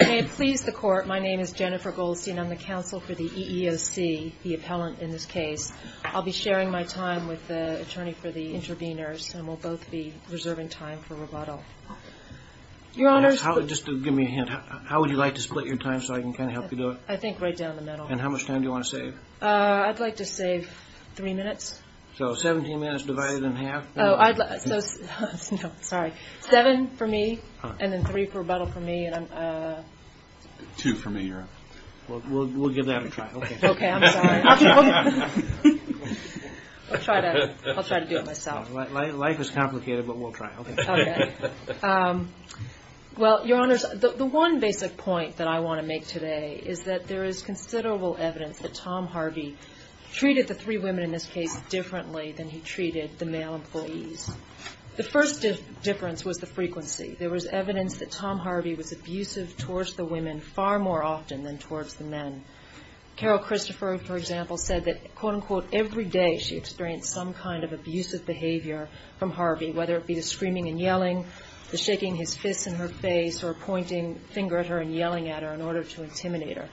May it please the court, my name is Jennifer Goldstein. I'm the counsel for the EEOC, the appellant in this case. I'll be sharing my time with the attorney for the interveners and we'll both be reserving time for rebuttal. Your Honor, just to give me a hint, how would you like to split your time so I can kind of help you do it? I think right down the middle. And how much time do you want to save? I'd like to save three minutes. So 17 minutes divided in half? No, sorry. Seven for me and then three for rebuttal for me. Two for me, Your Honor. We'll give that a try. Okay, I'm sorry. I'll try to do it myself. Life is complicated but we'll try. Okay. Well, Your Honors, the one basic point that I want to make today is that there is considerable evidence that Tom Harvey treated the three women in this case differently than he treated the male employees. The first difference was the frequency. There was evidence that Tom Harvey was abusive towards the women far more often than towards the men. Carol Christopher, for example, said that, quote unquote, every day she experienced some kind of abusive behavior from Harvey, whether it be the screaming and yelling, the shaking his fists in her face, or pointing a finger at her and yelling at her in order to intimidate her.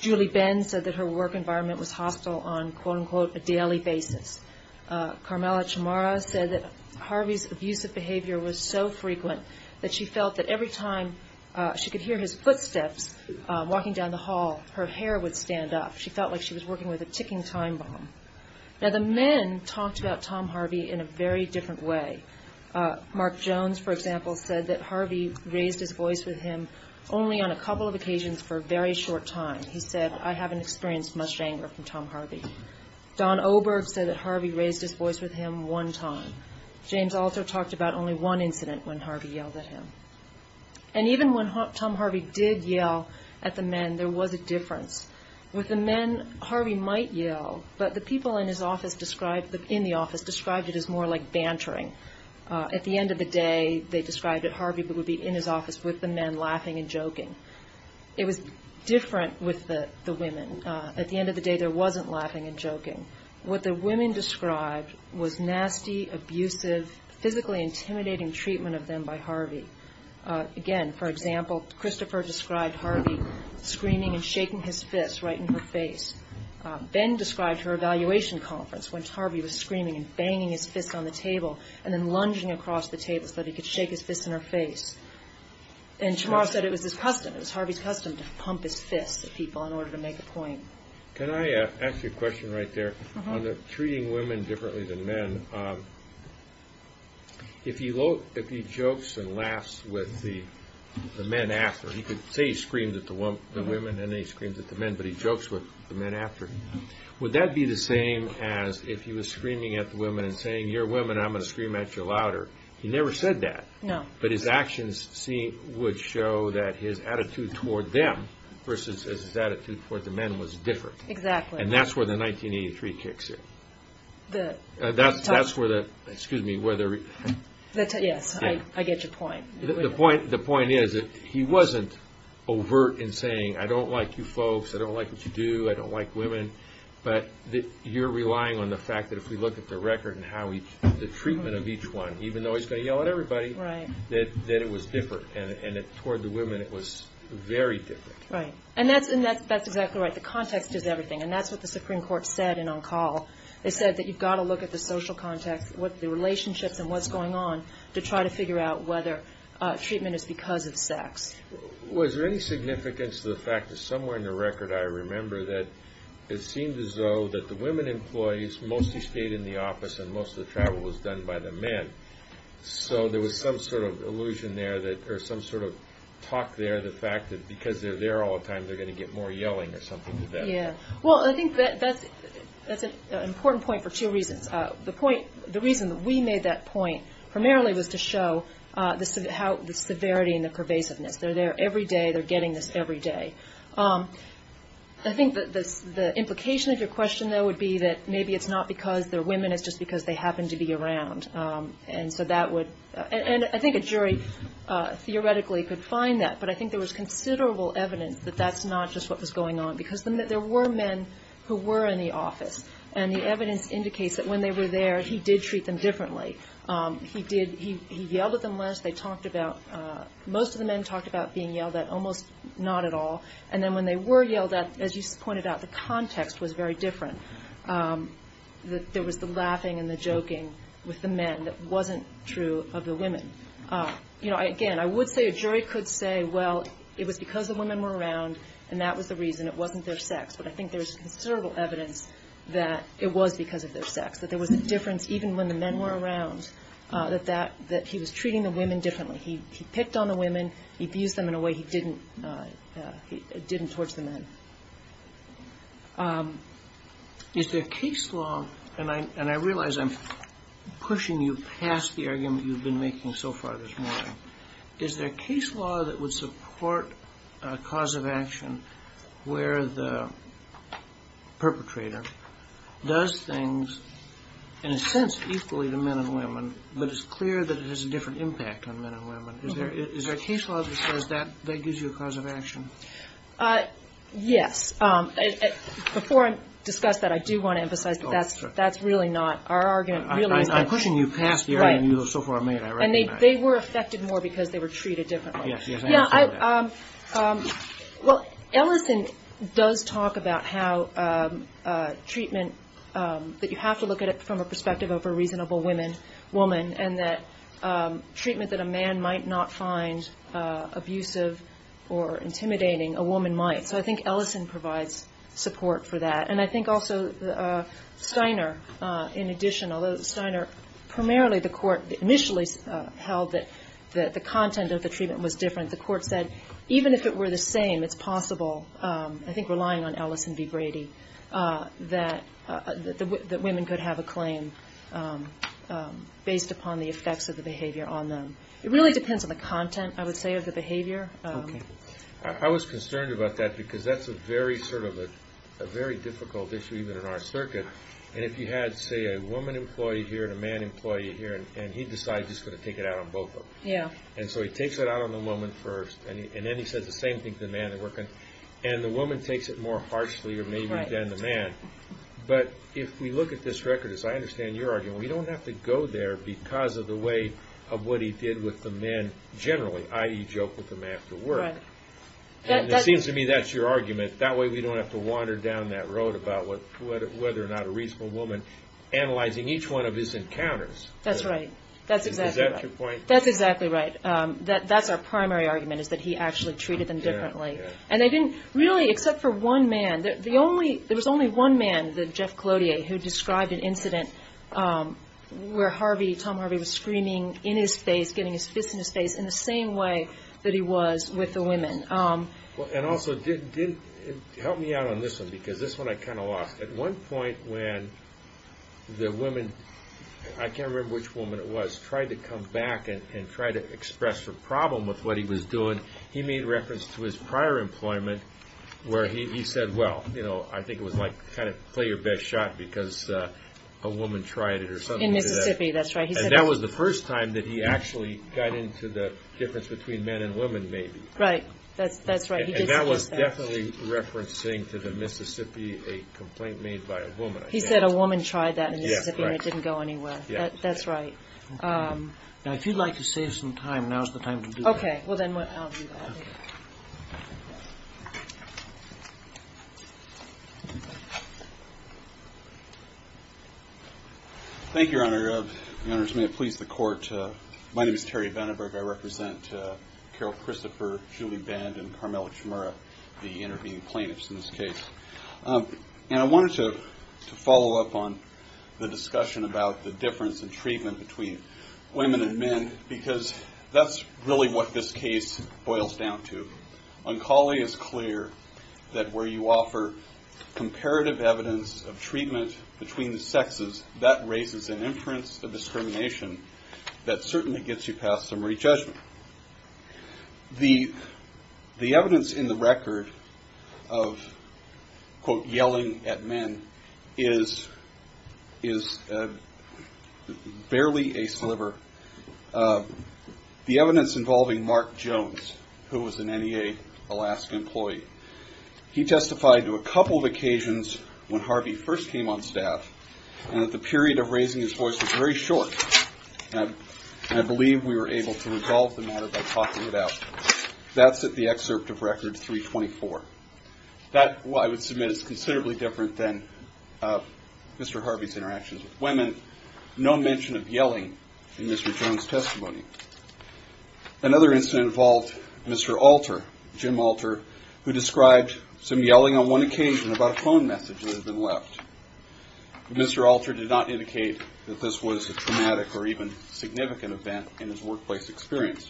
Julie Benn said that her work environment was hostile on, quote unquote, a daily basis. Carmela Chamara said that Harvey's abusive behavior was so frequent that she felt that every time she could hear his footsteps walking down the hall, her hair would stand up. She felt like she was working with a ticking time bomb. Now, the men talked about Tom Harvey in a very different way. Mark Jones, for example, said that Harvey raised his voice with him only on a couple of occasions for a very short time. He said, I haven't experienced much anger from Tom Harvey. Don Oberg said that Harvey raised his voice with him one time. James Alter talked about only one incident when Harvey yelled at him. And even when Tom Harvey did yell at the men, there was a difference. With the men, Harvey might yell, but the people in his office described, in the office, described it as more like bantering. At the end of the day, they described it, Harvey would be in his office with the men laughing and joking. It was different with the women. At the end of the day, there wasn't laughing and joking. What the women described was nasty, abusive, physically intimidating treatment of them by Harvey. Again, for example, Christopher described Harvey screaming and shaking his fist right in her face. Ben described her evaluation conference when Harvey was screaming and banging his fist on the table and then Chamorro said it was his custom, it was Harvey's custom to pump his fist at people in order to make a point. Can I ask you a question right there? On the treating women differently than men, if he jokes and laughs with the men after, you could say he screamed at the women and then he screams at the men, but he jokes with the men after. Would that be the same as if he was screaming at the women and saying, you're women, I'm going to scream at you louder. He never said that, but his actions would show that his attitude toward them versus his attitude toward the men was different. That's where the 1983 kicks in. The point is that he wasn't overt in saying, I don't like you folks, I don't like what you do, I don't like women, but you're relying on the fact that if we look at the record and the treatment of each one, even though he's going to yell at everybody, that it was different and toward the women it was very different. And that's exactly right. The context is everything and that's what the Supreme Court said in on call. They said that you've got to look at the social context, the relationships and what's going on to try to figure out whether treatment is because of sex. Was there any significance to the fact that somewhere in the record I remember that it was said that most of the travel was done by the men. So there was some sort of illusion there or some sort of talk there that because they're there all the time they're going to get more yelling or something like that. Well I think that's an important point for two reasons. The point, the reason that we made that point primarily was to show the severity and the pervasiveness. They're there every day, they're getting this every day. I think that the implication of your question though would be that maybe it's not because they're women, it's just because they happen to be around. And so that would, and I think a jury theoretically could find that, but I think there was considerable evidence that that's not just what was going on. Because there were men who were in the office and the evidence indicates that when they were there he did treat them differently. He did, he yelled at them less, they talked about, most of the men talked about being yelled at, almost not at all. And then when they were yelled at, as you pointed out, the context was very different. There was the laughing and the joking with the men that wasn't true of the women. You know, again, I would say a jury could say, well, it was because the women were around and that was the reason, it wasn't their sex. But I think there's considerable evidence that it was because of their sex, that there was a difference even when the men were around, that that, that he was treating the women differently. He picked on the women, he abused them in a way he didn't, he didn't towards the men. Is there case law, and I, and I realize I'm pushing you past the argument you've been making so far this morning, is there case law that would support a cause of action where the perpetrator does things, in a sense, equally to men and women, but it's clear that it has a different impact on men and women. Is there, is there case law that says that, that gives you a cause of action? Yes. Before I discuss that, I do want to emphasize that that's, that's really not, our argument really is that... I'm pushing you past the argument you have so far made, I recognize. And they, they were affected more because they were treated differently. Yes, yes, I understand that. Yeah, I, well, Ellison does talk about how treatment, that you have to look at it from a perspective of a reasonable women, woman, and that treatment that a man might not find abusive or intimidating, a woman might. So I think Ellison provides support for that. And I think also Steiner, in addition, although Steiner, primarily the court initially held that, that the content of the treatment was different, the court said, even if it were the same, it's possible, I think relying on Ellison v. Brady, that, that women could have a claim based upon the effects of the behavior on them. It really depends on the content, I would say, of the behavior. I was concerned about that, because that's a very, sort of a, a very difficult issue even in our circuit. And if you had, say, a woman employee here and a man employee here, and he decides he's going to take it out on both of them. Yeah. And so he takes it out on the woman first, and then he says the same thing to the man they're working. And the woman takes it more harshly, or maybe, than the man. But if we look at this record, as I understand your argument, we don't have to go there because of the way of what he did with the men generally, i.e. joke with them after work. Right. And it seems to me that's your argument. That way we don't have to wander down that road about what, whether or not a reasonable woman, analyzing each one of his encounters. That's right. That's exactly right. Is that your point? That's exactly right. That, that's our primary argument, is that he actually treated them differently. Yeah, yeah. And they didn't really, except for one man, the only, there was only one man, the Jeff Collodier, who described an incident where Harvey, Tom Harvey, was screaming in his face, getting his fist in his face, in the same way that he was with the women. And also did, did, help me out on this one, because this one I kind of lost. At one point when the women, I can't remember which woman it was, tried to come back and try to express her problem with what he was doing, he made reference to his prior employment, where he said, well, you know, I think it was like, kind of, play your best shot, because a woman tried it or something like that. In Mississippi, that's right. And that was the first time that he actually got into the difference between men and women, maybe. Right. That's, that's right. He did say that. And that was definitely referencing to the Mississippi, a complaint made by a woman. He said a woman tried that in Mississippi and it didn't go anywhere. Yes, right. That's right. Now, if you'd like to save some time, now's the time to do that. Okay. Well, then I'll do that. Thank you, Your Honor. Your Honors, may it please the Court. My name is Terry Vandenberg. I represent Carol Christopher, Julie Band, and Carmela Chimura, the intervening plaintiffs in this case. And I wanted to follow up on the discussion about the difference in treatment between women and men, because that's really what this case boils down to. Oncology is clear that where you offer comparative evidence of treatment between the sexes, that raises an inference of discrimination that certainly gets you past summary judgment. The evidence in the record of, quote, yelling at men is barely a sliver. The evidence involving Mark Jones, who was an NEA Alaska employee, he testified to a couple of occasions when Harvey first came on staff and that the period of raising his voice was very short, and I believe we were able to resolve the matter by talking it out. That's at the excerpt of Record 324. That, I would submit, is considerably different than Mr. Harvey's interactions with women. No mention of yelling in Mr. Jones' testimony. Another incident involved Mr. Alter, Jim Alter, who described some yelling on one occasion about a phone message that had been left. Mr. Alter did not indicate that this was a traumatic or even significant event in his workplace experience.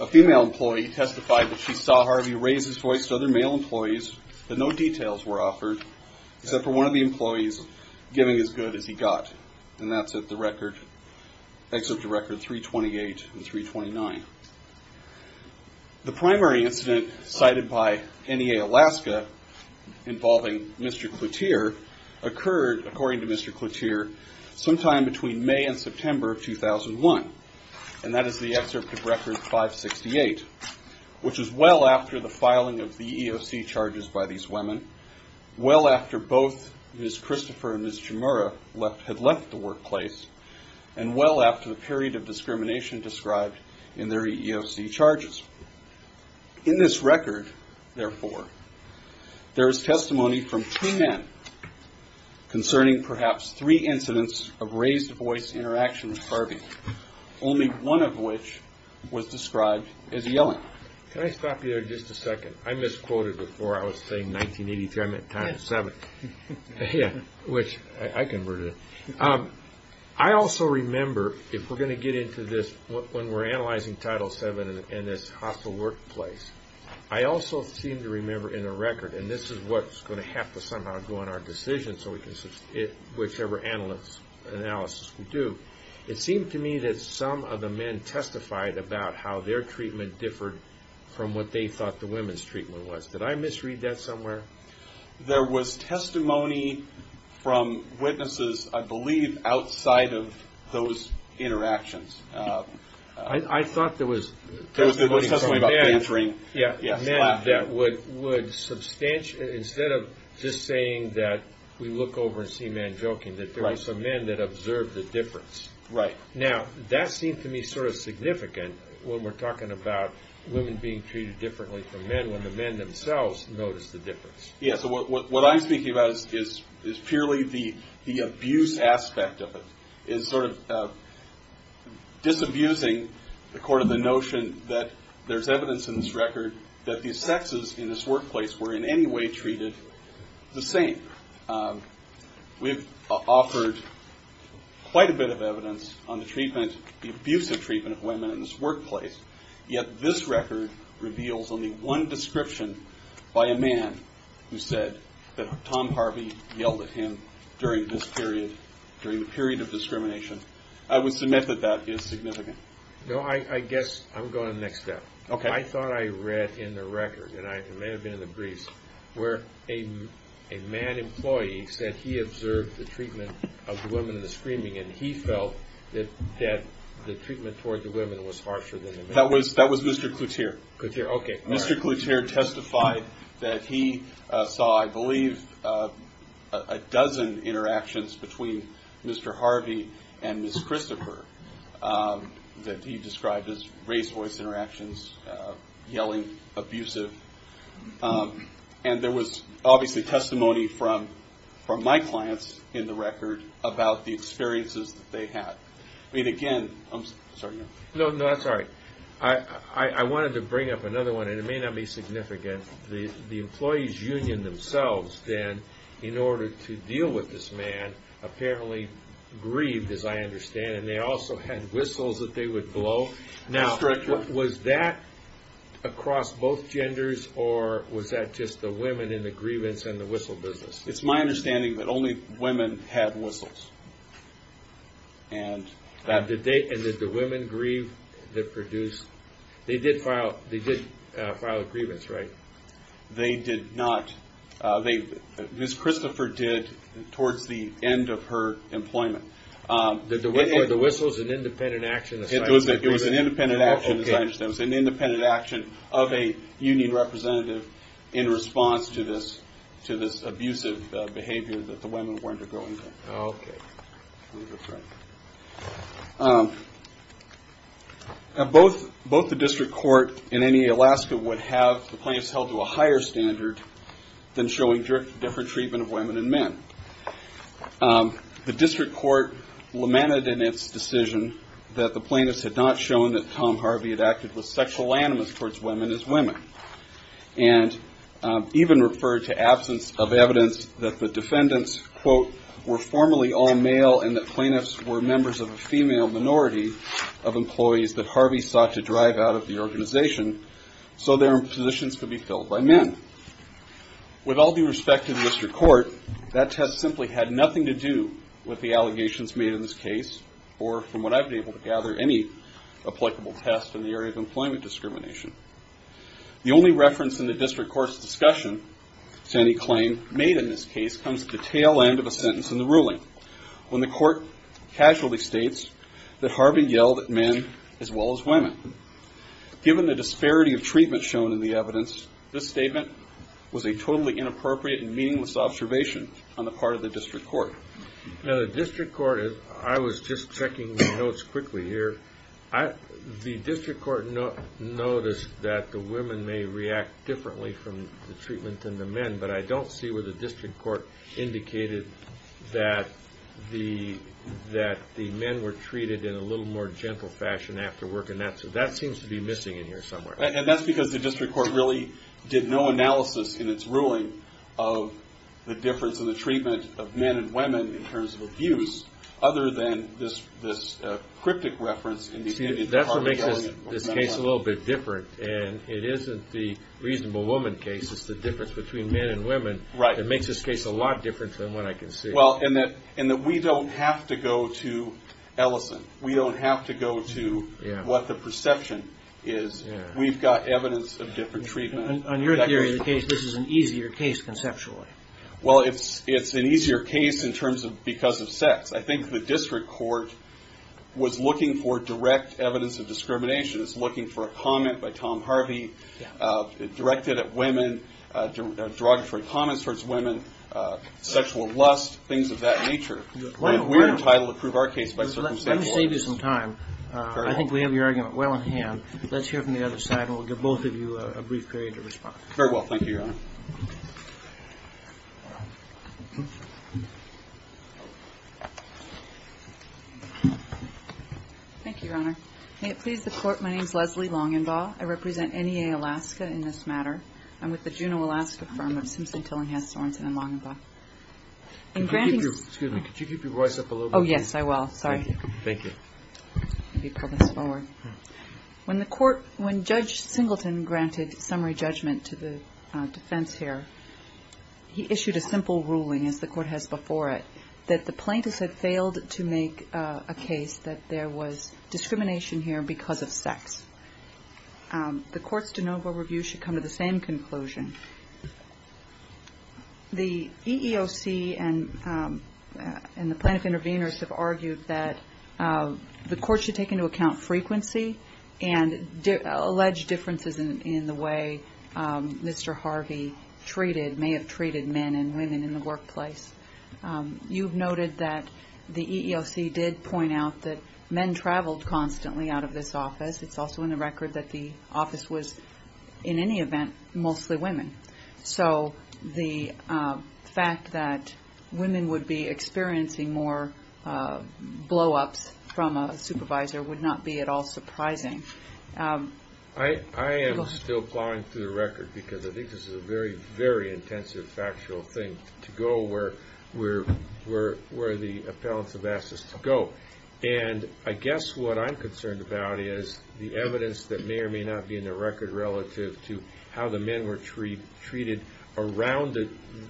A female employee testified that she saw Harvey raise his voice to other male employees, but no details were offered, except for one of the employees giving as good as he got. And that's at the record, Excerpt to Record 328 and 329. The primary incident cited by NEA Alaska involving Mr. Cloutier occurred, according to Mr. Cloutier, sometime between May and September of 2001, and that is the excerpt of Record 568, which is well after the filing of the EOC charges by these women, well after both Ms. Christopher and Ms. Chimura had left the workplace, and well after the period of discrimination described in their EEOC charges. In this record, therefore, there is testimony from two men concerning perhaps three incidents of raised voice interaction with Harvey, only one of which was described as yelling. Can I stop you there just a second? I misquoted before. I was saying 1983. I meant times seven, which I converted it. I also remember, if we're going to get into this, when we're analyzing Title VII and this hostile workplace, I also seem to remember in the record, and this is what's going to have to somehow go in our decision, so we can, whichever analysis we do, it seemed to me that some of the men testified about how their treatment differed from what they thought the women's treatment was. Did I misread that somewhere? There was testimony from witnesses, I believe, outside of those interactions. I thought there was testimony from men that would substantially, instead of just saying that we look over and see men joking, that there were some men that observed the difference. Right. Now, that seemed to me sort of significant when we're talking about women being treated differently from men when the men themselves noticed the difference. Yeah. So what I'm speaking about is purely the abuse aspect of it, is sort of disabusing the court of the notion that there's evidence in this record that these sexes in this workplace were in any way treated the same. We've offered quite a bit of evidence on the abuse of treatment of women in this workplace, yet this record reveals only one description by a man who said that Tom Harvey yelled at him during this period, during the period of discrimination. I would submit that that is significant. No, I guess I'm going to the next step. Okay. I thought I read in the record, and it may have been in the briefs, where a man employee said he observed the treatment of the women in the screening, and he felt that the treatment toward the women was harsher than the men. That was Mr. Cloutier. Cloutier. Okay. All right. Mr. Cloutier testified that he saw, I believe, a dozen interactions between Mr. Harvey and Ms. Christopher that he described as raised voice interactions, yelling, abusive. And there was obviously testimony from my clients in the record about the experiences that they had. I mean, again, I'm sorry. No, no, that's all right. I wanted to bring up another one, and it may not be significant. The employees union themselves then, in order to deal with this man, apparently grieved, as I understand, and they also had whistles that they would blow. Yes, Director. Now, was that across both genders, or was that just the women in the grievance and the whistle business? It's my understanding that only women had whistles. And did the women grieve that produced? They did file a grievance, right? They did not. Ms. Christopher did towards the end of her employment. Were the whistles an independent action? It was an independent action, as I understand. It was an independent action of a union representative in response to this abusive behavior that the women were undergoing. Okay. Now, both the district court in any Alaska would have the plaintiffs held to a higher standard than showing different treatment of women and men. The district court lamented in its decision that the plaintiffs had not shown that Tom was sexual animus towards women as women, and even referred to absence of evidence that the defendants, quote, were formerly all male and that plaintiffs were members of a female minority of employees that Harvey sought to drive out of the organization so their positions could be filled by men. With all due respect to the district court, that test simply had nothing to do with the allegations made in this case, or from what I've been able to gather, any applicable test in the area of employment discrimination. The only reference in the district court's discussion to any claim made in this case comes at the tail end of a sentence in the ruling, when the court casually states that Harvey yelled at men as well as women. Given the disparity of treatment shown in the evidence, this statement was a totally inappropriate and meaningless observation on the part of the district court. Now the district court, I was just checking the notes quickly here, the district court noticed that the women may react differently from the treatment than the men, but I don't see where the district court indicated that the men were treated in a little more gentle fashion after work, and that seems to be missing in here somewhere. And that's because the district court really did no analysis in its ruling of the difference in the treatment of men and women in terms of abuse, other than this cryptic reference indicated that Harvey yelled at men as well as women. See, that's what makes this case a little bit different, and it isn't the reasonable woman case, it's the difference between men and women that makes this case a lot different from what I can see. Well, and that we don't have to go to Ellison. We don't have to go to what the perception is. We've got evidence of different treatment. On your theory of the case, this is an easier case conceptually. Well, it's an easier case in terms of because of sex. I think the district court was looking for direct evidence of discrimination. It's looking for a comment by Tom Harvey directed at women, derogatory comments towards women, sexual lust, things of that nature. We're entitled to prove our case by circumstantial evidence. Let me save you some time. I think we have your argument well in hand. Let's hear from the other side, and we'll give both of you a brief period to respond. Very well. Thank you, Your Honor. Thank you, Your Honor. May it please the Court, my name is Leslie Longenbaugh. I represent NEA Alaska in this matter. I'm with the Juneau, Alaska firm of Simpson, Tillinghast, Sorensen and Longenbaugh. In granting the ---- Excuse me. Could you keep your voice up a little bit? Oh, yes, I will. Sorry. Thank you. Let me pull this forward. When the Court ---- when Judge Singleton granted summary judgment to the defense here, he issued a simple ruling, as the Court has before it, that the plaintiffs had failed to make a case that there was discrimination here because of sex. The Court's de novo review should come to the same conclusion. The EEOC and the plaintiff intervenors have argued that the Court should take into account frequency and alleged differences in the way Mr. Harvey may have treated men and women in the workplace. You've noted that the EEOC did point out that men traveled constantly out of this office. It's also in the record that the office was, in any event, mostly women. So the fact that women would be experiencing more blow-ups from a supervisor would not be at all surprising. I am still plowing through the record because I think this is a very, very intensive factual thing, to go where the appellants have asked us to go. And I guess what I'm concerned about is the evidence that may or may not be in the record relative to how the men were treated around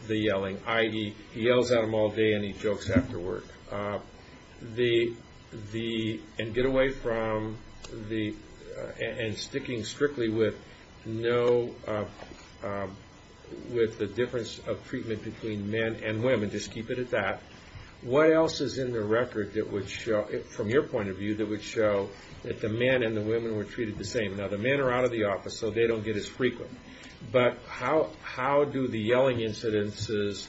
the yelling, i.e., he yells at them all day and he jokes after work, and sticking strictly with the difference of treatment between men and women. Just keep it at that. What else is in the record, from your point of view, that would show that the men and the women were treated the same? Now, the men are out of the office, so they don't get as frequent. But how do the yelling incidences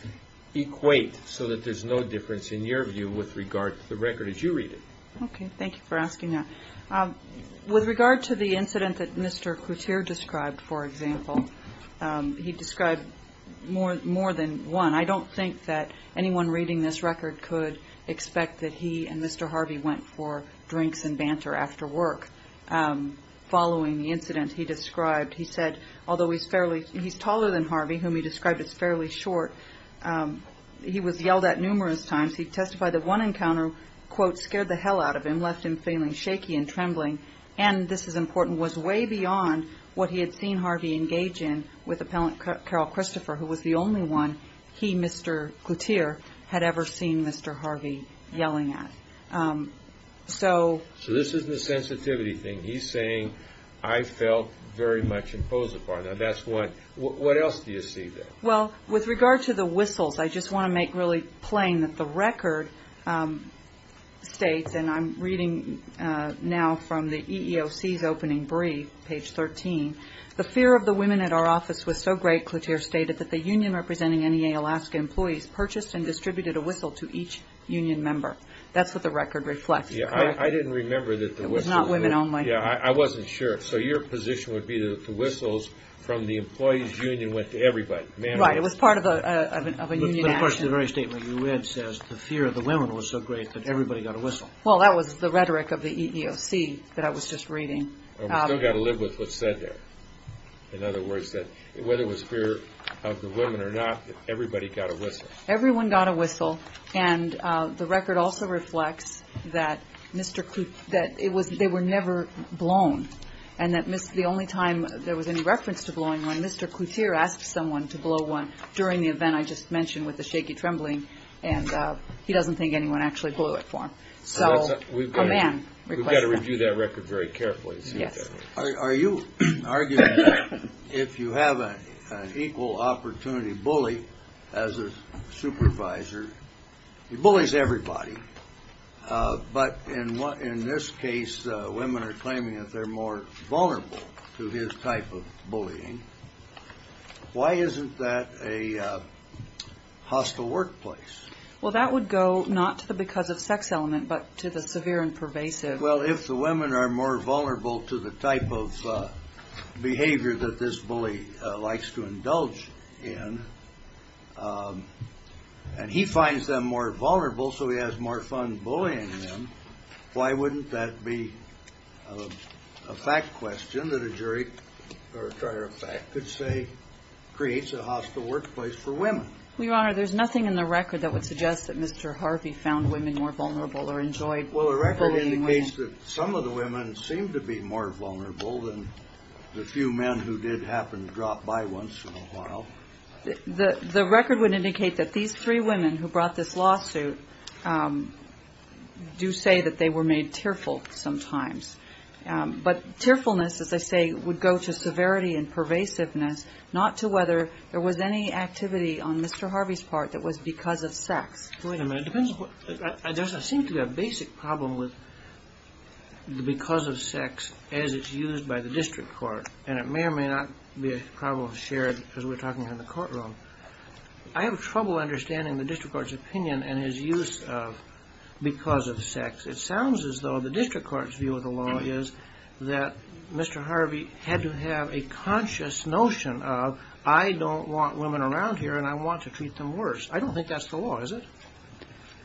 equate so that there's no difference, in your view, with regard to the record as you read it? Okay, thank you for asking that. With regard to the incident that Mr. Couture described, for example, he described more than one. I don't think that anyone reading this record could expect that he and Mr. Harvey went for drinks and banter after work. Following the incident he described, he said, although he's taller than Harvey, whom he described as fairly short, he was yelled at numerous times. He testified that one encounter, quote, scared the hell out of him, left him feeling shaky and trembling, and this is important, was way beyond what he had seen Harvey engage in with appellant Carol Christopher, who was the only one he, Mr. Couture, had ever seen Mr. Harvey yelling at. So this isn't a sensitivity thing. He's saying, I felt very much imposed upon. Now, that's one. What else do you see there? Well, with regard to the whistles, I just want to make really plain that the record states, and I'm reading now from the EEOC's opening brief, page 13, the fear of the women at our office was so great, Couture stated, that the union representing NEA Alaska employees purchased and distributed a whistle to each union member. That's what the record reflects, correct? Yeah, I didn't remember that the whistles. It was not women only. Yeah, I wasn't sure. So your position would be that the whistles from the employees' union went to everybody. Right, it was part of a union action. But of course, the very statement you read says the fear of the women was so great that everybody got a whistle. Well, that was the rhetoric of the EEOC that I was just reading. We've still got to live with what's said there. In other words, whether it was fear of the women or not, everybody got a whistle. Everyone got a whistle, and the record also reflects that they were never blown, and the only time there was any reference to blowing one, Mr. Couture asked someone to blow one during the event I just mentioned with the shaky trembling, and he doesn't think anyone actually blew it for him. We've got to review that record very carefully. Are you arguing that if you have an equal opportunity bully as a supervisor, he bullies everybody, but in this case, women are claiming that they're more vulnerable to his type of bullying. Why isn't that a hostile workplace? Well, that would go not to the because of sex element, but to the severe and pervasive. Well, if the women are more vulnerable to the type of behavior that this bully likes to indulge in, and he finds them more vulnerable so he has more fun bullying them, why wouldn't that be a fact question that a jury or a charge of fact could say creates a hostile workplace for women? Your Honor, there's nothing in the record that would suggest that Mr. Harvey found women more vulnerable or enjoyed bullying women. Well, the record indicates that some of the women seem to be more vulnerable than the few men who did happen to drop by once in a while. The record would indicate that these three women who brought this lawsuit do say that they were made tearful sometimes. But tearfulness, as I say, would go to severity and pervasiveness, not to whether there was any activity on Mr. Harvey's part that was because of sex. Wait a minute. There seems to be a basic problem with the because of sex as it's used by the district court, and it may or may not be a problem shared as we're talking in the courtroom. I have trouble understanding the district court's opinion and his use of because of sex. It sounds as though the district court's view of the law is that Mr. Harvey had to have a conscious notion of, I don't want women around here and I want to treat them worse. I don't think that's the law, is it?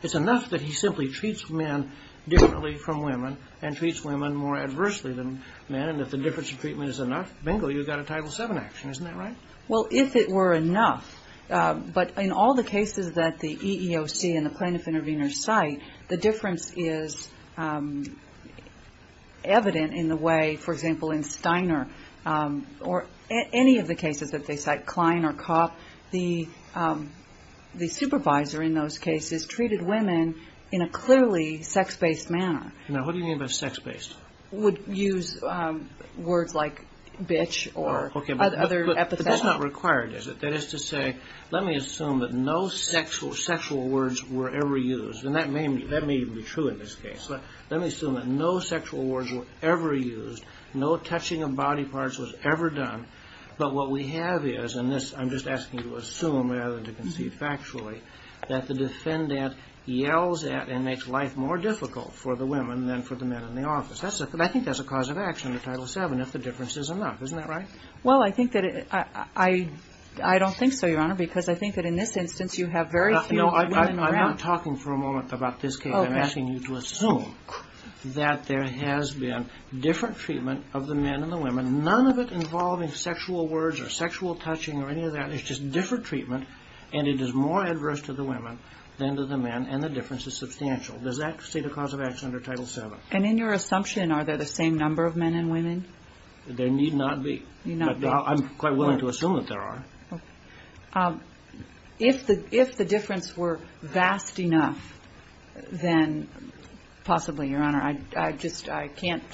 It's enough that he simply treats men differently from women and treats women more adversely than men, and if the difference in treatment is enough, bingo, you've got a Title VII action. Isn't that right? Well, if it were enough. But in all the cases that the EEOC and the plaintiff intervener cite, the difference is evident in the way, for example, in Steiner or any of the cases that they cite, Klein or Kopp, the supervisor in those cases treated women in a clearly sex-based manner. Now, what do you mean by sex-based? Would use words like bitch or other epithets. But that's not required, is it? That is to say, let me assume that no sexual words were ever used, and that may even be true in this case, but let me assume that no sexual words were ever used, no touching of body parts was ever done, but what we have is, and I'm just asking you to assume rather than to conceive factually, that the defendant yells at and makes life more difficult for the women than for the men in the office. I think that's a cause of action, the Title VII, if the difference is enough. Isn't that right? Well, I think that it, I don't think so, Your Honor, because I think that in this instance you have very few women around. I'm not talking for a moment about this case. I'm asking you to assume that there has been different treatment of the men and the women. None of it involving sexual words or sexual touching or any of that. It's just different treatment, and it is more adverse to the women than to the men, and the difference is substantial. Does that state a cause of action under Title VII? And in your assumption, are there the same number of men and women? There need not be. Need not be. I'm quite willing to assume that there are. Okay. If the difference were vast enough, then possibly, Your Honor. I just, I can't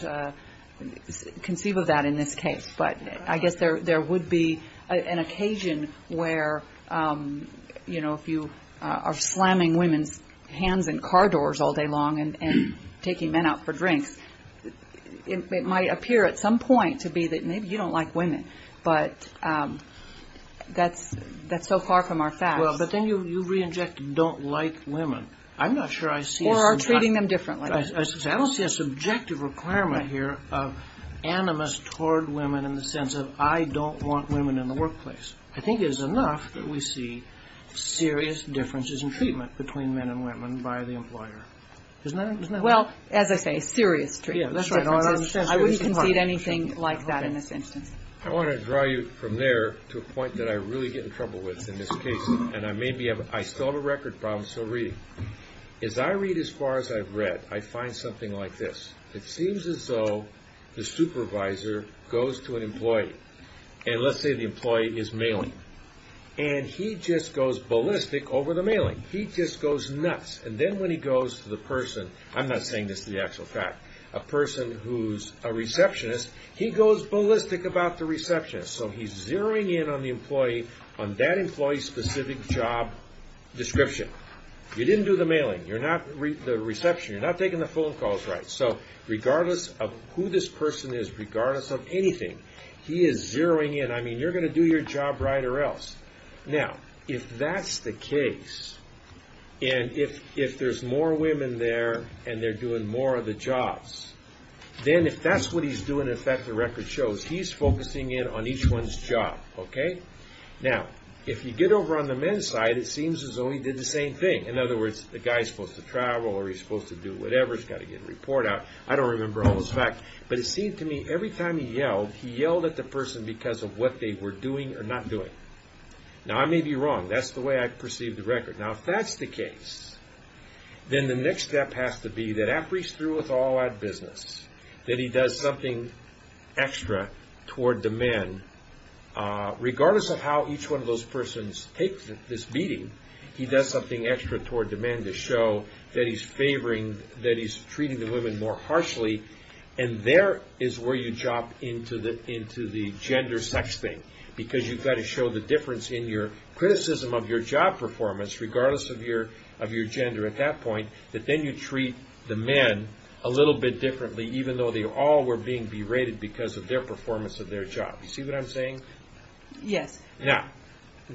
conceive of that in this case, but I guess there would be an occasion where, you know, if you are slamming women's hands in car doors all day long and taking men out for drinks, it might appear at some point to be that maybe you don't like women, but that's so far from our facts. Well, but then you re-inject don't like women. I'm not sure I see a subjective. Or are treating them differently. I don't see a subjective requirement here of animus toward women in the sense of, I don't want women in the workplace. I think it is enough that we see serious differences in treatment between men and women by the employer. Isn't that right? Well, as I say, serious differences. I wouldn't concede anything like that in this instance. I want to draw you from there to a point that I really get in trouble with in this case, and I still have a record problem still reading. As I read as far as I've read, I find something like this. It seems as though the supervisor goes to an employee, and let's say the employee is mailing, and he just goes ballistic over the mailing. He just goes nuts. And then when he goes to the person, I'm not saying this to the actual fact, a person who's a receptionist, he goes ballistic about the receptionist. So he's zeroing in on the employee on that employee's specific job description. You didn't do the mailing. You're not the reception. You're not taking the phone calls right. So regardless of who this person is, regardless of anything, he is zeroing in. I mean, you're going to do your job right or else. Now, if that's the case, and if there's more women there and they're doing more of the jobs, then if that's what he's doing, in fact, the record shows, he's focusing in on each one's job. Now, if you get over on the men's side, it seems as though he did the same thing. In other words, the guy's supposed to travel or he's supposed to do whatever. He's got to get a report out. I don't remember all those facts, but it seemed to me every time he yelled, he yelled at the person because of what they were doing or not doing. Now, I may be wrong. That's the way I perceive the record. Now, if that's the case, then the next step has to be that after he's through with all that business, that he does something extra toward the men. Regardless of how each one of those persons takes this meeting, he does something extra toward the men to show that he's favoring, that he's treating the women more harshly, and there is where you jump into the gender sex thing because you've got to show the difference in your criticism of your job performance, regardless of your gender at that point, that then you treat the men a little bit differently, even though they all were being berated because of their performance of their job. You see what I'm saying? Yes. Now,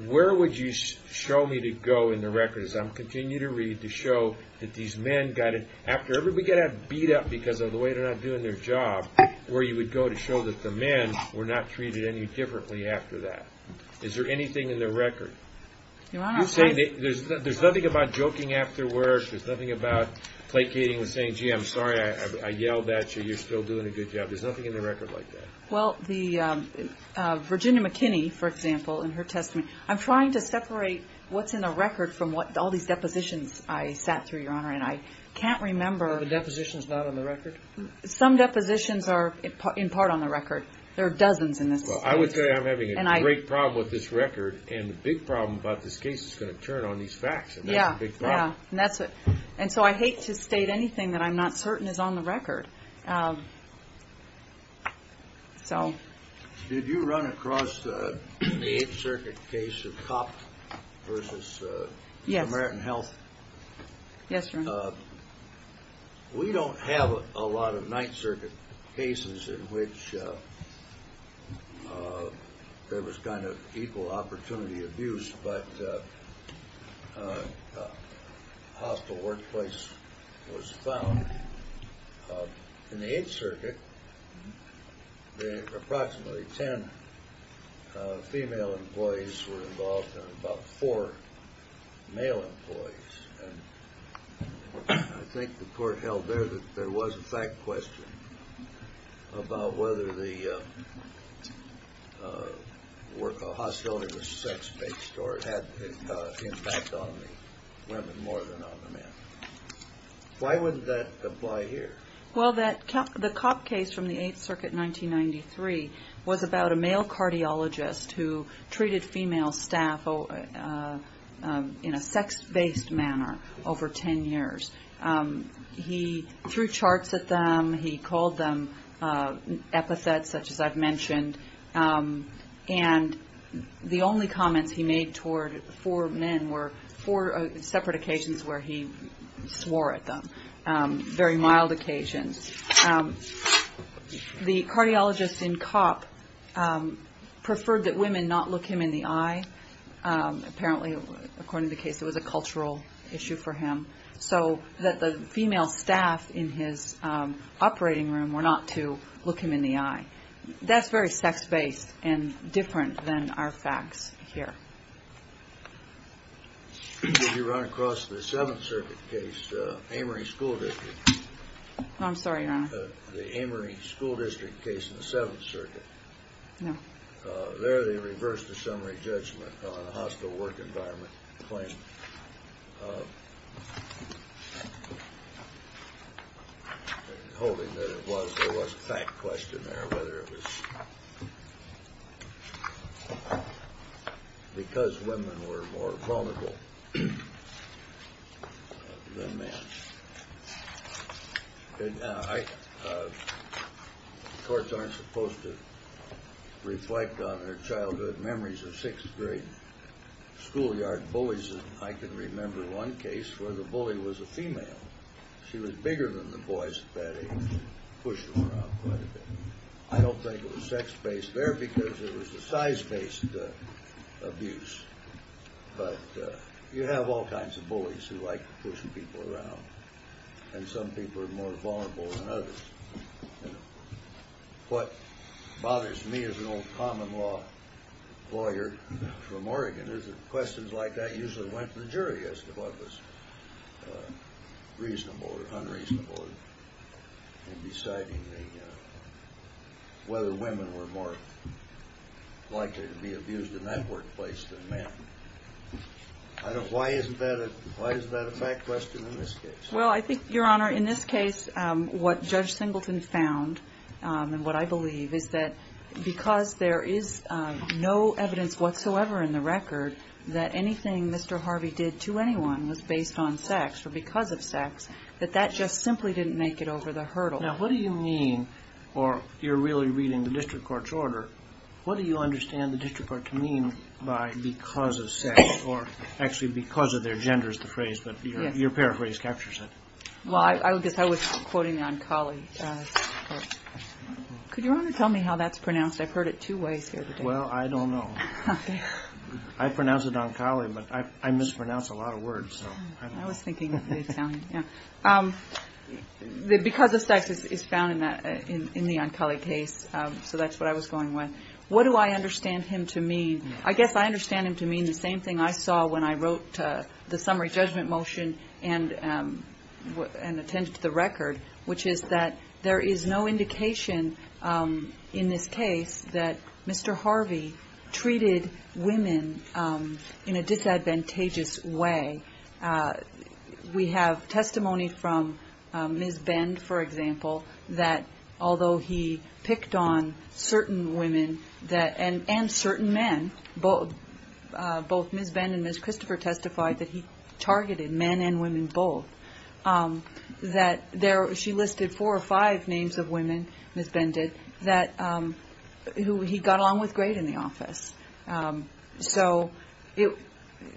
where would you show me to go in the record as I'm continuing to read to show that these men got it after everybody got beat up because of the way they're not doing their job, where you would go to show that the men were not treated any differently after that? Is there anything in the record? You're saying there's nothing about joking afterwards. There's nothing about placating and saying, gee, I'm sorry I yelled at you. You're still doing a good job. There's nothing in the record like that. Well, Virginia McKinney, for example, in her testament, I'm trying to separate what's in the record from all these depositions I sat through, Your Honor, and I can't remember. Are the depositions not on the record? Some depositions are in part on the record. There are dozens in this case. Well, I would say I'm having a great problem with this record, and the big problem about this case is going to turn on these facts, and that's the big problem. Yeah, yeah, and so I hate to state anything that I'm not certain is on the record. Did you run across the Eighth Circuit case of Copp versus American Health? Yes, Your Honor. We don't have a lot of Ninth Circuit cases in which there was kind of equal opportunity abuse, but a hostile workplace was found. In the Eighth Circuit, approximately ten female employees were involved and about four male employees, and I think the court held there that there was a fact question about whether the work of hostility was sex-based or had an impact on the women more than on the men. Why wouldn't that apply here? Well, the Copp case from the Eighth Circuit in 1993 was about a male cardiologist who treated female staff in a sex-based manner over ten years. He threw charts at them. He called them epithets, such as I've mentioned, and the only comments he made toward four men were four separate occasions where he swore at them, very mild occasions. The cardiologist in Copp preferred that women not look him in the eye. Apparently, according to the case, it was a cultural issue for him. So that the female staff in his operating room were not to look him in the eye. That's very sex-based and different than our facts here. Did you run across the Seventh Circuit case, Amory School District? I'm sorry, Your Honor. The Amory School District case in the Seventh Circuit. No. There, they reversed the summary judgment on a hostile work environment claim, holding that there was a fact question there, whether it was because women were more vulnerable than men. The courts aren't supposed to reflect on their childhood memories of sixth-grade schoolyard bullies. I can remember one case where the bully was a female. She was bigger than the boys at that age and pushed them around quite a bit. I don't think it was sex-based there because it was a size-based abuse. But you have all kinds of bullies who like to push people around. And some people are more vulnerable than others. What bothers me as an old common-law lawyer from Oregon is that questions like that usually went to the jury as to what was reasonable or unreasonable in deciding whether women were more likely to be abused in that workplace than men. Why is that a fact question in this case? Well, I think, Your Honor, in this case, what Judge Singleton found and what I believe is that because there is no evidence whatsoever in the record that anything Mr. Harvey did to anyone was based on sex or because of sex, that that just simply didn't make it over the hurdle. Now, what do you mean, or you're really reading the district court's order, what do you understand the district court to mean by because of sex? Or actually because of their gender is the phrase, but your paraphrase captures it. Well, I guess I was quoting the Oncology Court. Could you, Your Honor, tell me how that's pronounced? I've heard it two ways here today. Well, I don't know. I pronounce it Oncology, but I mispronounce a lot of words. I was thinking the Italian. Because of sex is found in the Oncology case, so that's what I was going with. What do I understand him to mean? I guess I understand him to mean the same thing I saw when I wrote the summary judgment motion and attended the record, which is that there is no indication in this case that Mr. Harvey treated women in a disadvantageous way. We have testimony from Ms. Bend, for example, that although he picked on certain women and certain men, both Ms. Bend and Ms. Christopher testified that he targeted men and women both, that she listed four or five names of women, Ms. Bend did, who he got along with great in the office. So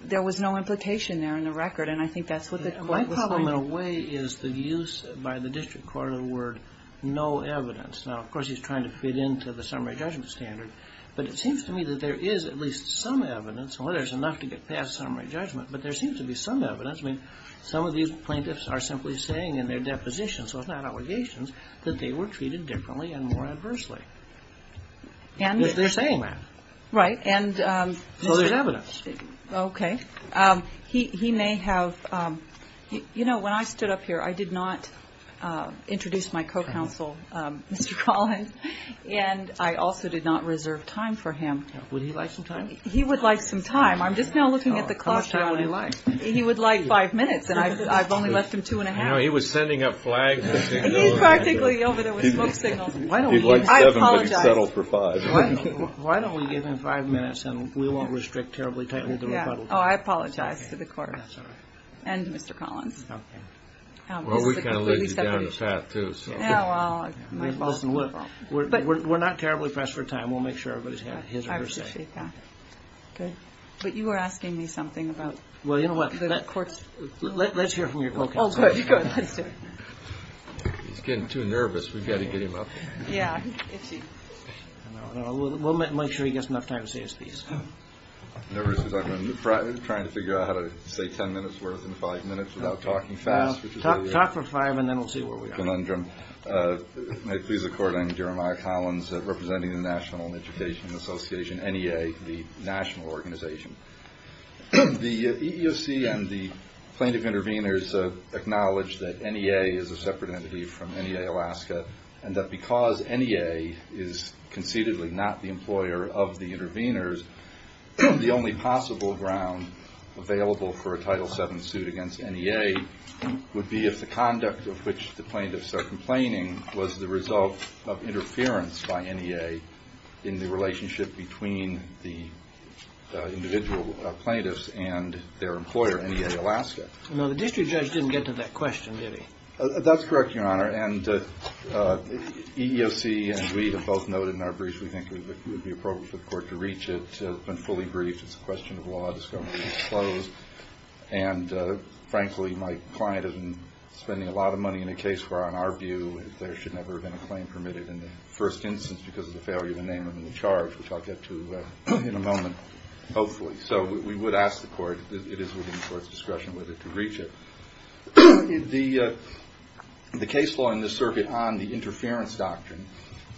there was no implication there in the record, and I think that's what the court was saying. My problem, in a way, is the use by the district court of the word no evidence. Now, of course, he's trying to fit into the summary judgment standard, but it seems to me that there is at least some evidence. Well, there's enough to get past summary judgment, but there seems to be some evidence. I mean, some of these plaintiffs are simply saying in their depositions, so it's not allegations, that they were treated differently and more adversely. They're saying that. Right. So there's evidence. Okay. He may have – you know, when I stood up here, I did not introduce my co-counsel, Mr. Collins, and I also did not reserve time for him. Would he like some time? He would like some time. I'm just now looking at the clock. How much time would he like? He would like five minutes, and I've only left him two and a half. No, he was sending up flags. He's practically over there with smoke signals. He'd like seven, but he's settled for five. Why don't we give him five minutes, and we won't restrict terribly tightly the rebuttal time? Oh, I apologize to the court and Mr. Collins. Okay. Well, we kind of laid you down a path, too, so. Listen, look, we're not terribly pressed for time. We'll make sure everybody's had his or her say. I appreciate that. Okay. But you were asking me something about the court's – Let's hear from your co-counsel. Oh, good. Let's do it. He's getting too nervous. We've got to get him up. Yeah. We'll make sure he gets enough time to say his piece. I'm nervous because I've been trying to figure out how to say ten minutes' worth in five minutes without talking fast. Talk for five, and then we'll see where we are. May it please the court, I'm Jeremiah Collins, representing the National Education Association, NEA, the national organization. The EEOC and the plaintiff intervenors acknowledge that NEA is a separate entity from NEA Alaska and that because NEA is conceitedly not the employer of the intervenors, the only possible ground available for a Title VII suit against NEA would be if the conduct of which the plaintiffs are complaining was the result of interference by NEA in the relationship between the individual plaintiffs and their employer, NEA Alaska. No, the district judge didn't get to that question, did he? That's correct, Your Honor. And EEOC, as we have both noted in our briefs, we think it would be appropriate for the court to reach it. It's been fully briefed. It's a question of law. It's going to be disclosed. And, frankly, my client has been spending a lot of money in a case where, in our view, there should never have been a claim permitted in the first instance because of the failure to name them in the charge, which I'll get to in a moment, hopefully. So we would ask the court, it is within the court's discretion, whether to reach it. The case law in this circuit on the interference doctrine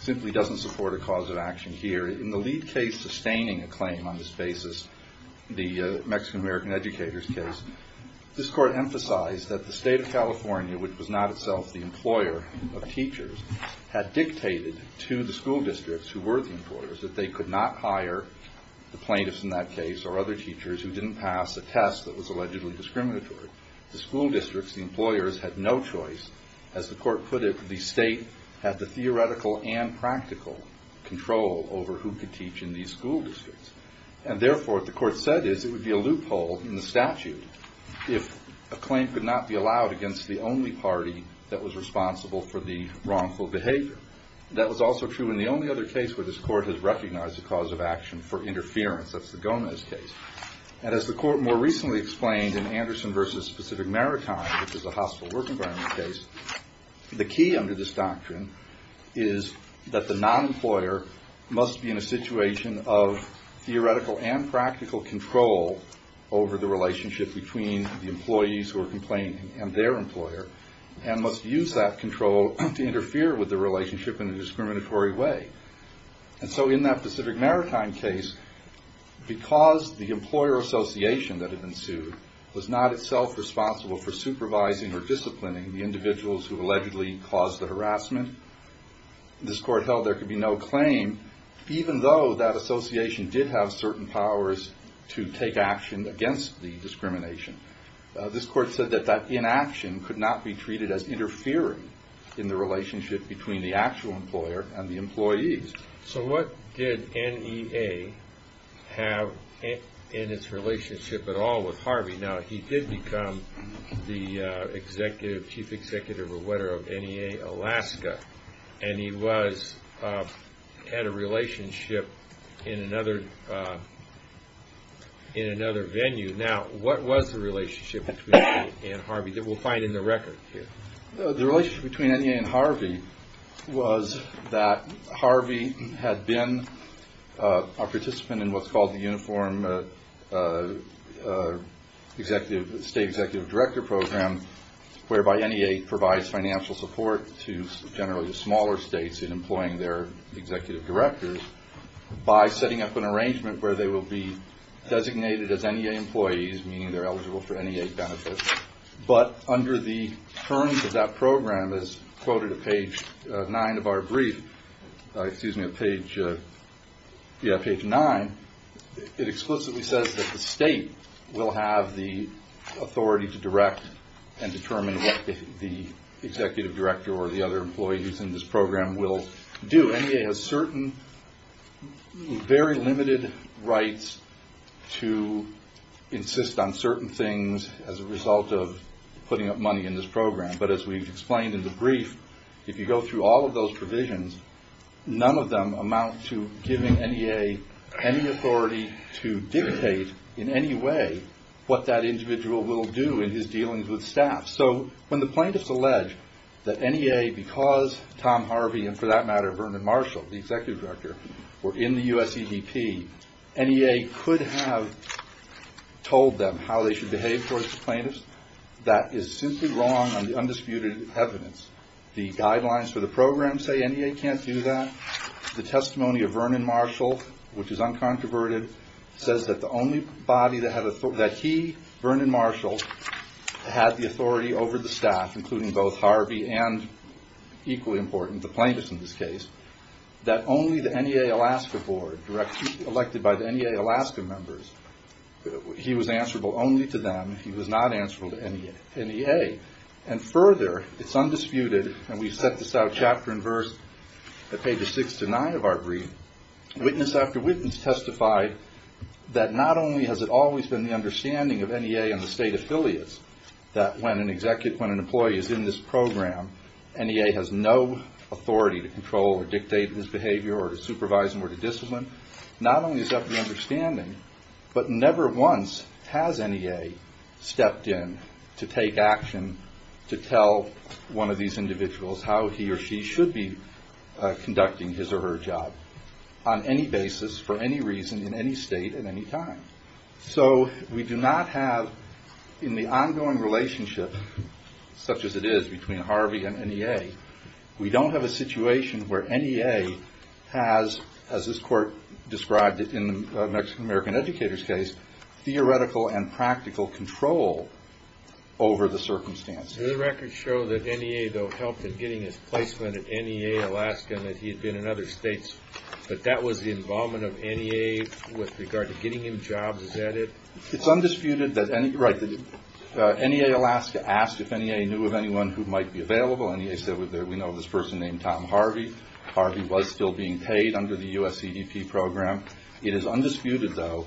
simply doesn't support a cause of action here. In the lead case sustaining a claim on this basis, the Mexican-American educators case, this court emphasized that the state of California, which was not itself the employer of teachers, had dictated to the school districts who were the employers that they could not hire the plaintiffs in that case or other teachers who didn't pass a test that was allegedly discriminatory. The school districts, the employers, had no choice. As the court put it, the state had the theoretical and practical control over who could teach in these school districts. And, therefore, what the court said is it would be a loophole in the statute if a claim could not be allowed against the only party that was responsible for the wrongful behavior. That was also true in the only other case where this court has recognized a cause of action for interference. That's the Gomez case. And as the court more recently explained in Anderson v. Specific Maritime, which is a hostile work environment case, the key under this doctrine is that the non-employer must be in a situation of theoretical and practical control over the relationship between the employees who are complaining and their employer and must use that control to interfere with the relationship in a discriminatory way. And so in that Specific Maritime case, because the employer association that had been sued was not itself responsible for supervising or disciplining the individuals who allegedly caused the harassment, this court held there could be no claim, even though that association did have certain powers to take action against the discrimination. This court said that that inaction could not be treated as interfering in the relationship between the actual employer and the employees. So what did NEA have in its relationship at all with Harvey? Now, he did become the chief executive of NEA Alaska, and he had a relationship in another venue. Now, what was the relationship between he and Harvey that we'll find in the record here? The relationship between NEA and Harvey was that Harvey had been a participant in what's called the Uniform State Executive Director Program, whereby NEA provides financial support to generally the smaller states in employing their executive directors by setting up an arrangement where they will be designated as NEA employees, meaning they're eligible for NEA benefits. But under the terms of that program, as quoted at page nine of our brief, it explicitly says that the state will have the authority to direct and determine what the executive director or the other employees in this program will do. So NEA has certain, very limited rights to insist on certain things as a result of putting up money in this program. But as we've explained in the brief, if you go through all of those provisions, none of them amount to giving NEA any authority to dictate in any way what that individual will do in his dealings with staff. So when the plaintiffs allege that NEA, because Tom Harvey and, for that matter, Vernon Marshall, the executive director, were in the USEDP, NEA could have told them how they should behave towards the plaintiffs. That is simply wrong on the undisputed evidence. The guidelines for the program say NEA can't do that. The testimony of Vernon Marshall, which is uncontroverted, says that the only body that he, Vernon Marshall, had the authority over the staff, including both Harvey and, equally important, the plaintiffs in this case, that only the NEA Alaska board, elected by the NEA Alaska members, he was answerable only to them. He was not answerable to NEA. And further, it's undisputed, and we set this out chapter and verse at pages six to nine of our brief, witness after witness testified that not only has it always been the understanding of NEA and the state affiliates that when an employee is in this program, NEA has no authority to control or dictate his behavior or to supervise him or to discipline. Not only is that the understanding, but never once has NEA stepped in to take action to tell one of these individuals how he or she should be conducting his or her job on any basis, for any reason, in any state, at any time. So we do not have, in the ongoing relationship, such as it is between Harvey and NEA, we don't have a situation where NEA has, as this court described it in the Mexican American Educators case, theoretical and practical control over the circumstances. The records show that NEA, though, helped in getting his placement at NEA Alaska and that he had been in other states, but that was the involvement of NEA with regard to getting him jobs. Is that it? It's undisputed that NEA Alaska asked if NEA knew of anyone who might be available. NEA said, we know this person named Tom Harvey. Harvey was still being paid under the U.S. CDP program. It is undisputed, though,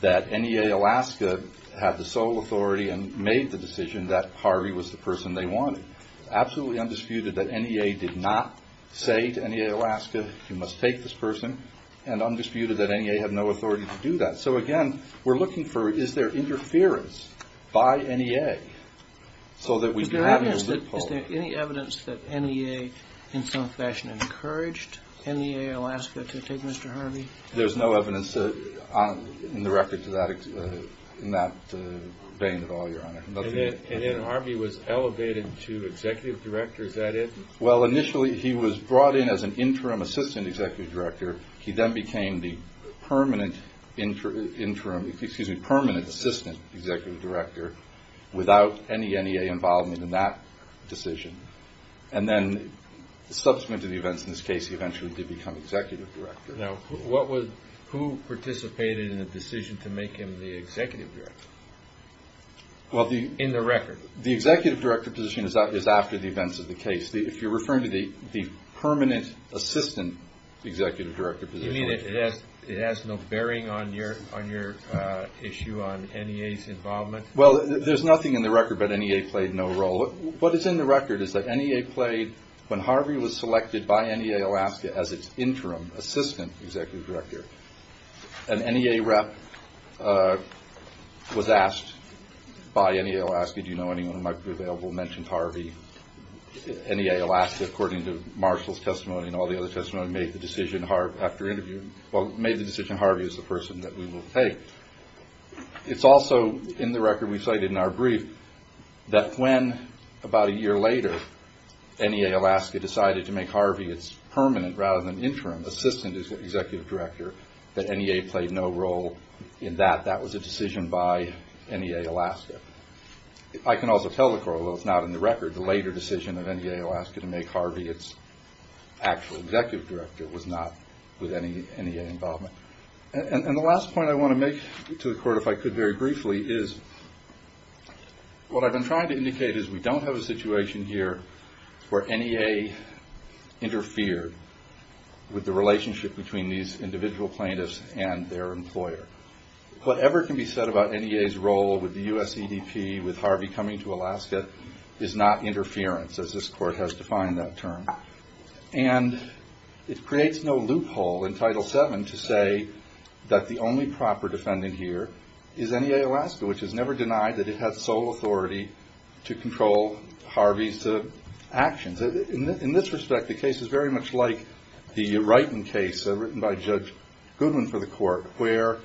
that NEA Alaska had the sole authority and made the decision that Harvey was the person they wanted. It's absolutely undisputed that NEA did not say to NEA Alaska, you must take this person, and undisputed that NEA had no authority to do that. So again, we're looking for, is there interference by NEA so that we can have a loophole? Is there any evidence that NEA, in some fashion, encouraged NEA Alaska to take Mr. Harvey? There's no evidence in the record in that vein at all, Your Honor. And then Harvey was elevated to executive director. Is that it? Well, initially he was brought in as an interim assistant executive director. He then became the permanent assistant executive director without any NEA involvement in that decision. And then, subsequent to the events in this case, he eventually did become executive director. Now, who participated in the decision to make him the executive director? In the record? The executive director position is after the events of the case. If you're referring to the permanent assistant executive director position. You mean it has no bearing on your issue on NEA's involvement? Well, there's nothing in the record about NEA played no role. What is in the record is that NEA played, when Harvey was selected by NEA Alaska as its interim assistant executive director, an NEA rep was asked by NEA Alaska, do you know anyone who might be available, mentioned Harvey. NEA Alaska, according to Marshall's testimony and all the other testimony, made the decision after interviewing, well, made the decision Harvey is the person that we will take. It's also in the record we cited in our brief that when, about a year later, NEA Alaska decided to make Harvey its permanent rather than interim assistant executive director, that NEA played no role in that. That was a decision by NEA Alaska. I can also tell the court, although it's not in the record, the later decision of NEA Alaska to make Harvey its actual executive director was not with any NEA involvement. And the last point I want to make to the court, if I could very briefly, is what I've been trying to indicate is we don't have a situation here where NEA interfered with the relationship between these individual plaintiffs and their employer. Whatever can be said about NEA's role with the USEDP, with Harvey coming to Alaska, is not interference, as this court has defined that term. And it creates no loophole in Title VII to say that the only proper defendant here is NEA Alaska, which has never denied that it had sole authority to control Harvey's actions. In this respect, the case is very much like the Wrighton case written by Judge Goodwin for the court, where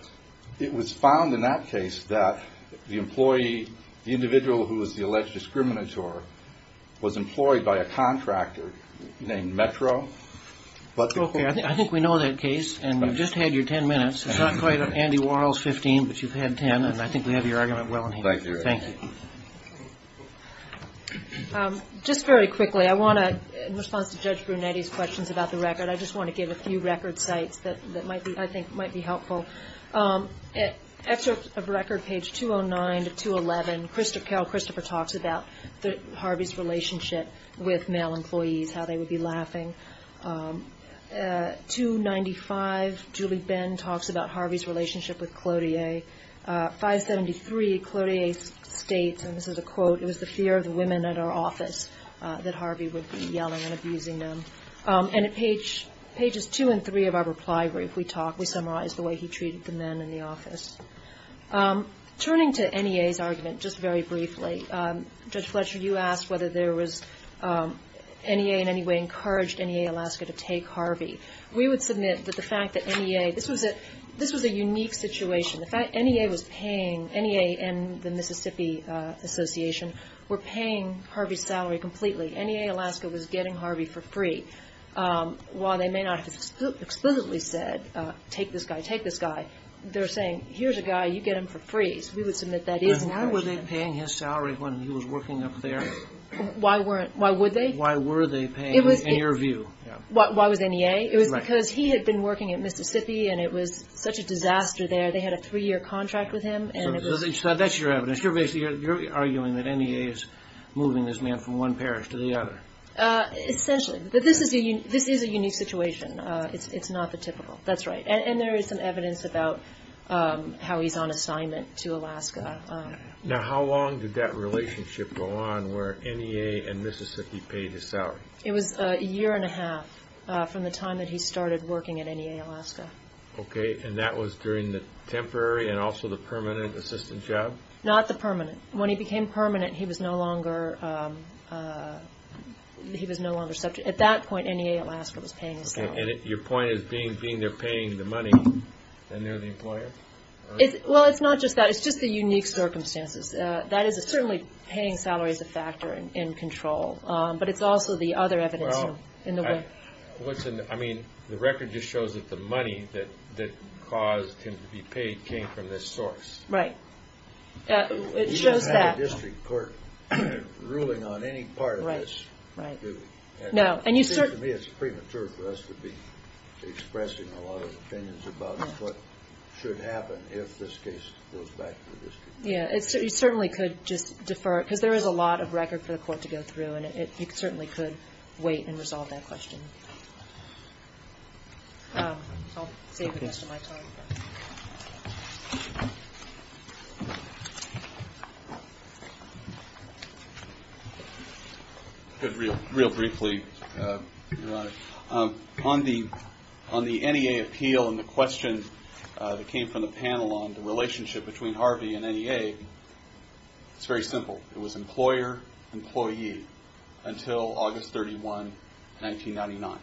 it was found in that case that the employee, the individual who was the alleged discriminator, was employed by a contractor named Metro. I think we know that case, and you've just had your 10 minutes. It's not quite Andy Warhol's 15, but you've had 10, and I think we have your argument well in hand. Thank you. Just very quickly, I want to, in response to Judge Brunetti's questions about the record, I just want to give a few record sites that I think might be helpful. Excerpt of record, page 209 to 211, Carol Christopher talks about Harvey's relationship with male employees, how they would be laughing. 295, Julie Benn talks about Harvey's relationship with Clodier. 573, Clodier states, and this is a quote, it was the fear of the women at our office that Harvey would be yelling and abusing them. And at pages two and three of our reply brief, we talk, we summarize the way he treated the men in the office. Turning to NEA's argument, just very briefly, Judge Fletcher, you asked whether there was, NEA in any way encouraged NEA Alaska to take Harvey. We would submit that the fact that NEA, this was a unique situation. The fact NEA was paying, NEA and the Mississippi Association were paying Harvey's salary completely. NEA Alaska was getting Harvey for free. While they may not have explicitly said, take this guy, take this guy, they're saying, here's a guy, you get him for free, so we would submit that is an encouragement. Why were they paying his salary when he was working up there? Why were they paying, in your view? Why was NEA? It was because he had been working at Mississippi and it was such a disaster there. They had a three-year contract with him. So that's your evidence. You're arguing that NEA is moving this man from one parish to the other. Essentially. But this is a unique situation. It's not the typical. That's right. And there is some evidence about how he's on assignment to Alaska. Now, how long did that relationship go on where NEA and Mississippi paid his salary? It was a year and a half from the time that he started working at NEA Alaska. Okay. And that was during the temporary and also the permanent assistant job? Not the permanent. When he became permanent, he was no longer subject. At that point, NEA Alaska was paying his salary. And your point is being they're paying the money and they're the employer? Well, it's not just that. It's just the unique circumstances. That is certainly paying salary is a factor in control, but it's also the other evidence. I mean, the record just shows that the money that caused him to be paid came from this source. Right. It shows that. There is no district court ruling on any part of this. To me, it's premature for us to be expressing a lot of opinions about what should happen if this case goes back to the district court. Yeah, it certainly could just defer because there is a lot of record for the court to go through, and it certainly could wait and resolve that question. I'll save the rest of my time. Real briefly. On the NEA appeal and the question that came from the panel on the relationship between Harvey and NEA, it's very simple. It was employer, employee until August 31, 1999.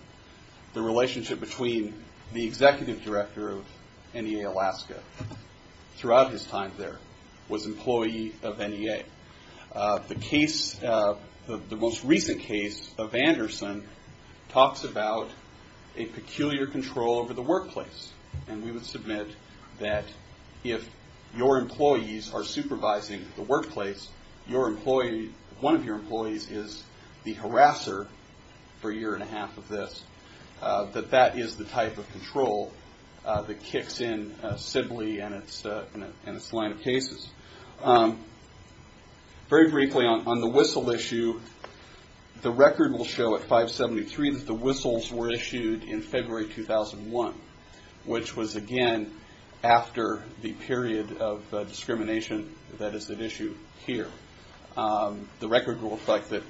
The relationship between the executive director of NEA Alaska throughout his time there was employee of NEA. The case, the most recent case of Anderson talks about a peculiar control over the workplace, and we would submit that if your employees are supervising the workplace, one of your employees is the harasser for a year and a half of this, that that is the type of control that kicks in Sibley and its line of cases. Very briefly, on the Whistle issue, the record will show at 573 that the Whistles were issued in February 2001, which was, again, after the period of discrimination that is at issue here. The record will reflect that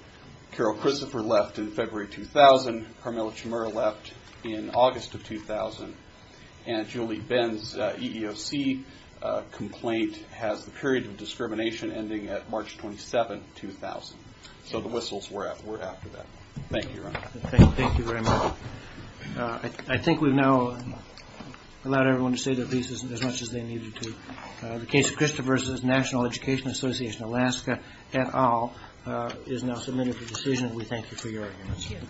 Carol Christopher left in February 2000, Carmelo Chamura left in August of 2000, and Julie Ben's EEOC complaint has the period of discrimination ending at March 27, 2000. So the Whistles were after that. Thank you very much. I think we've now allowed everyone to say their pieces as much as they needed to. The case of Christopher's National Education Association, Alaska et al., is now submitted for decision. We thank you for your attention.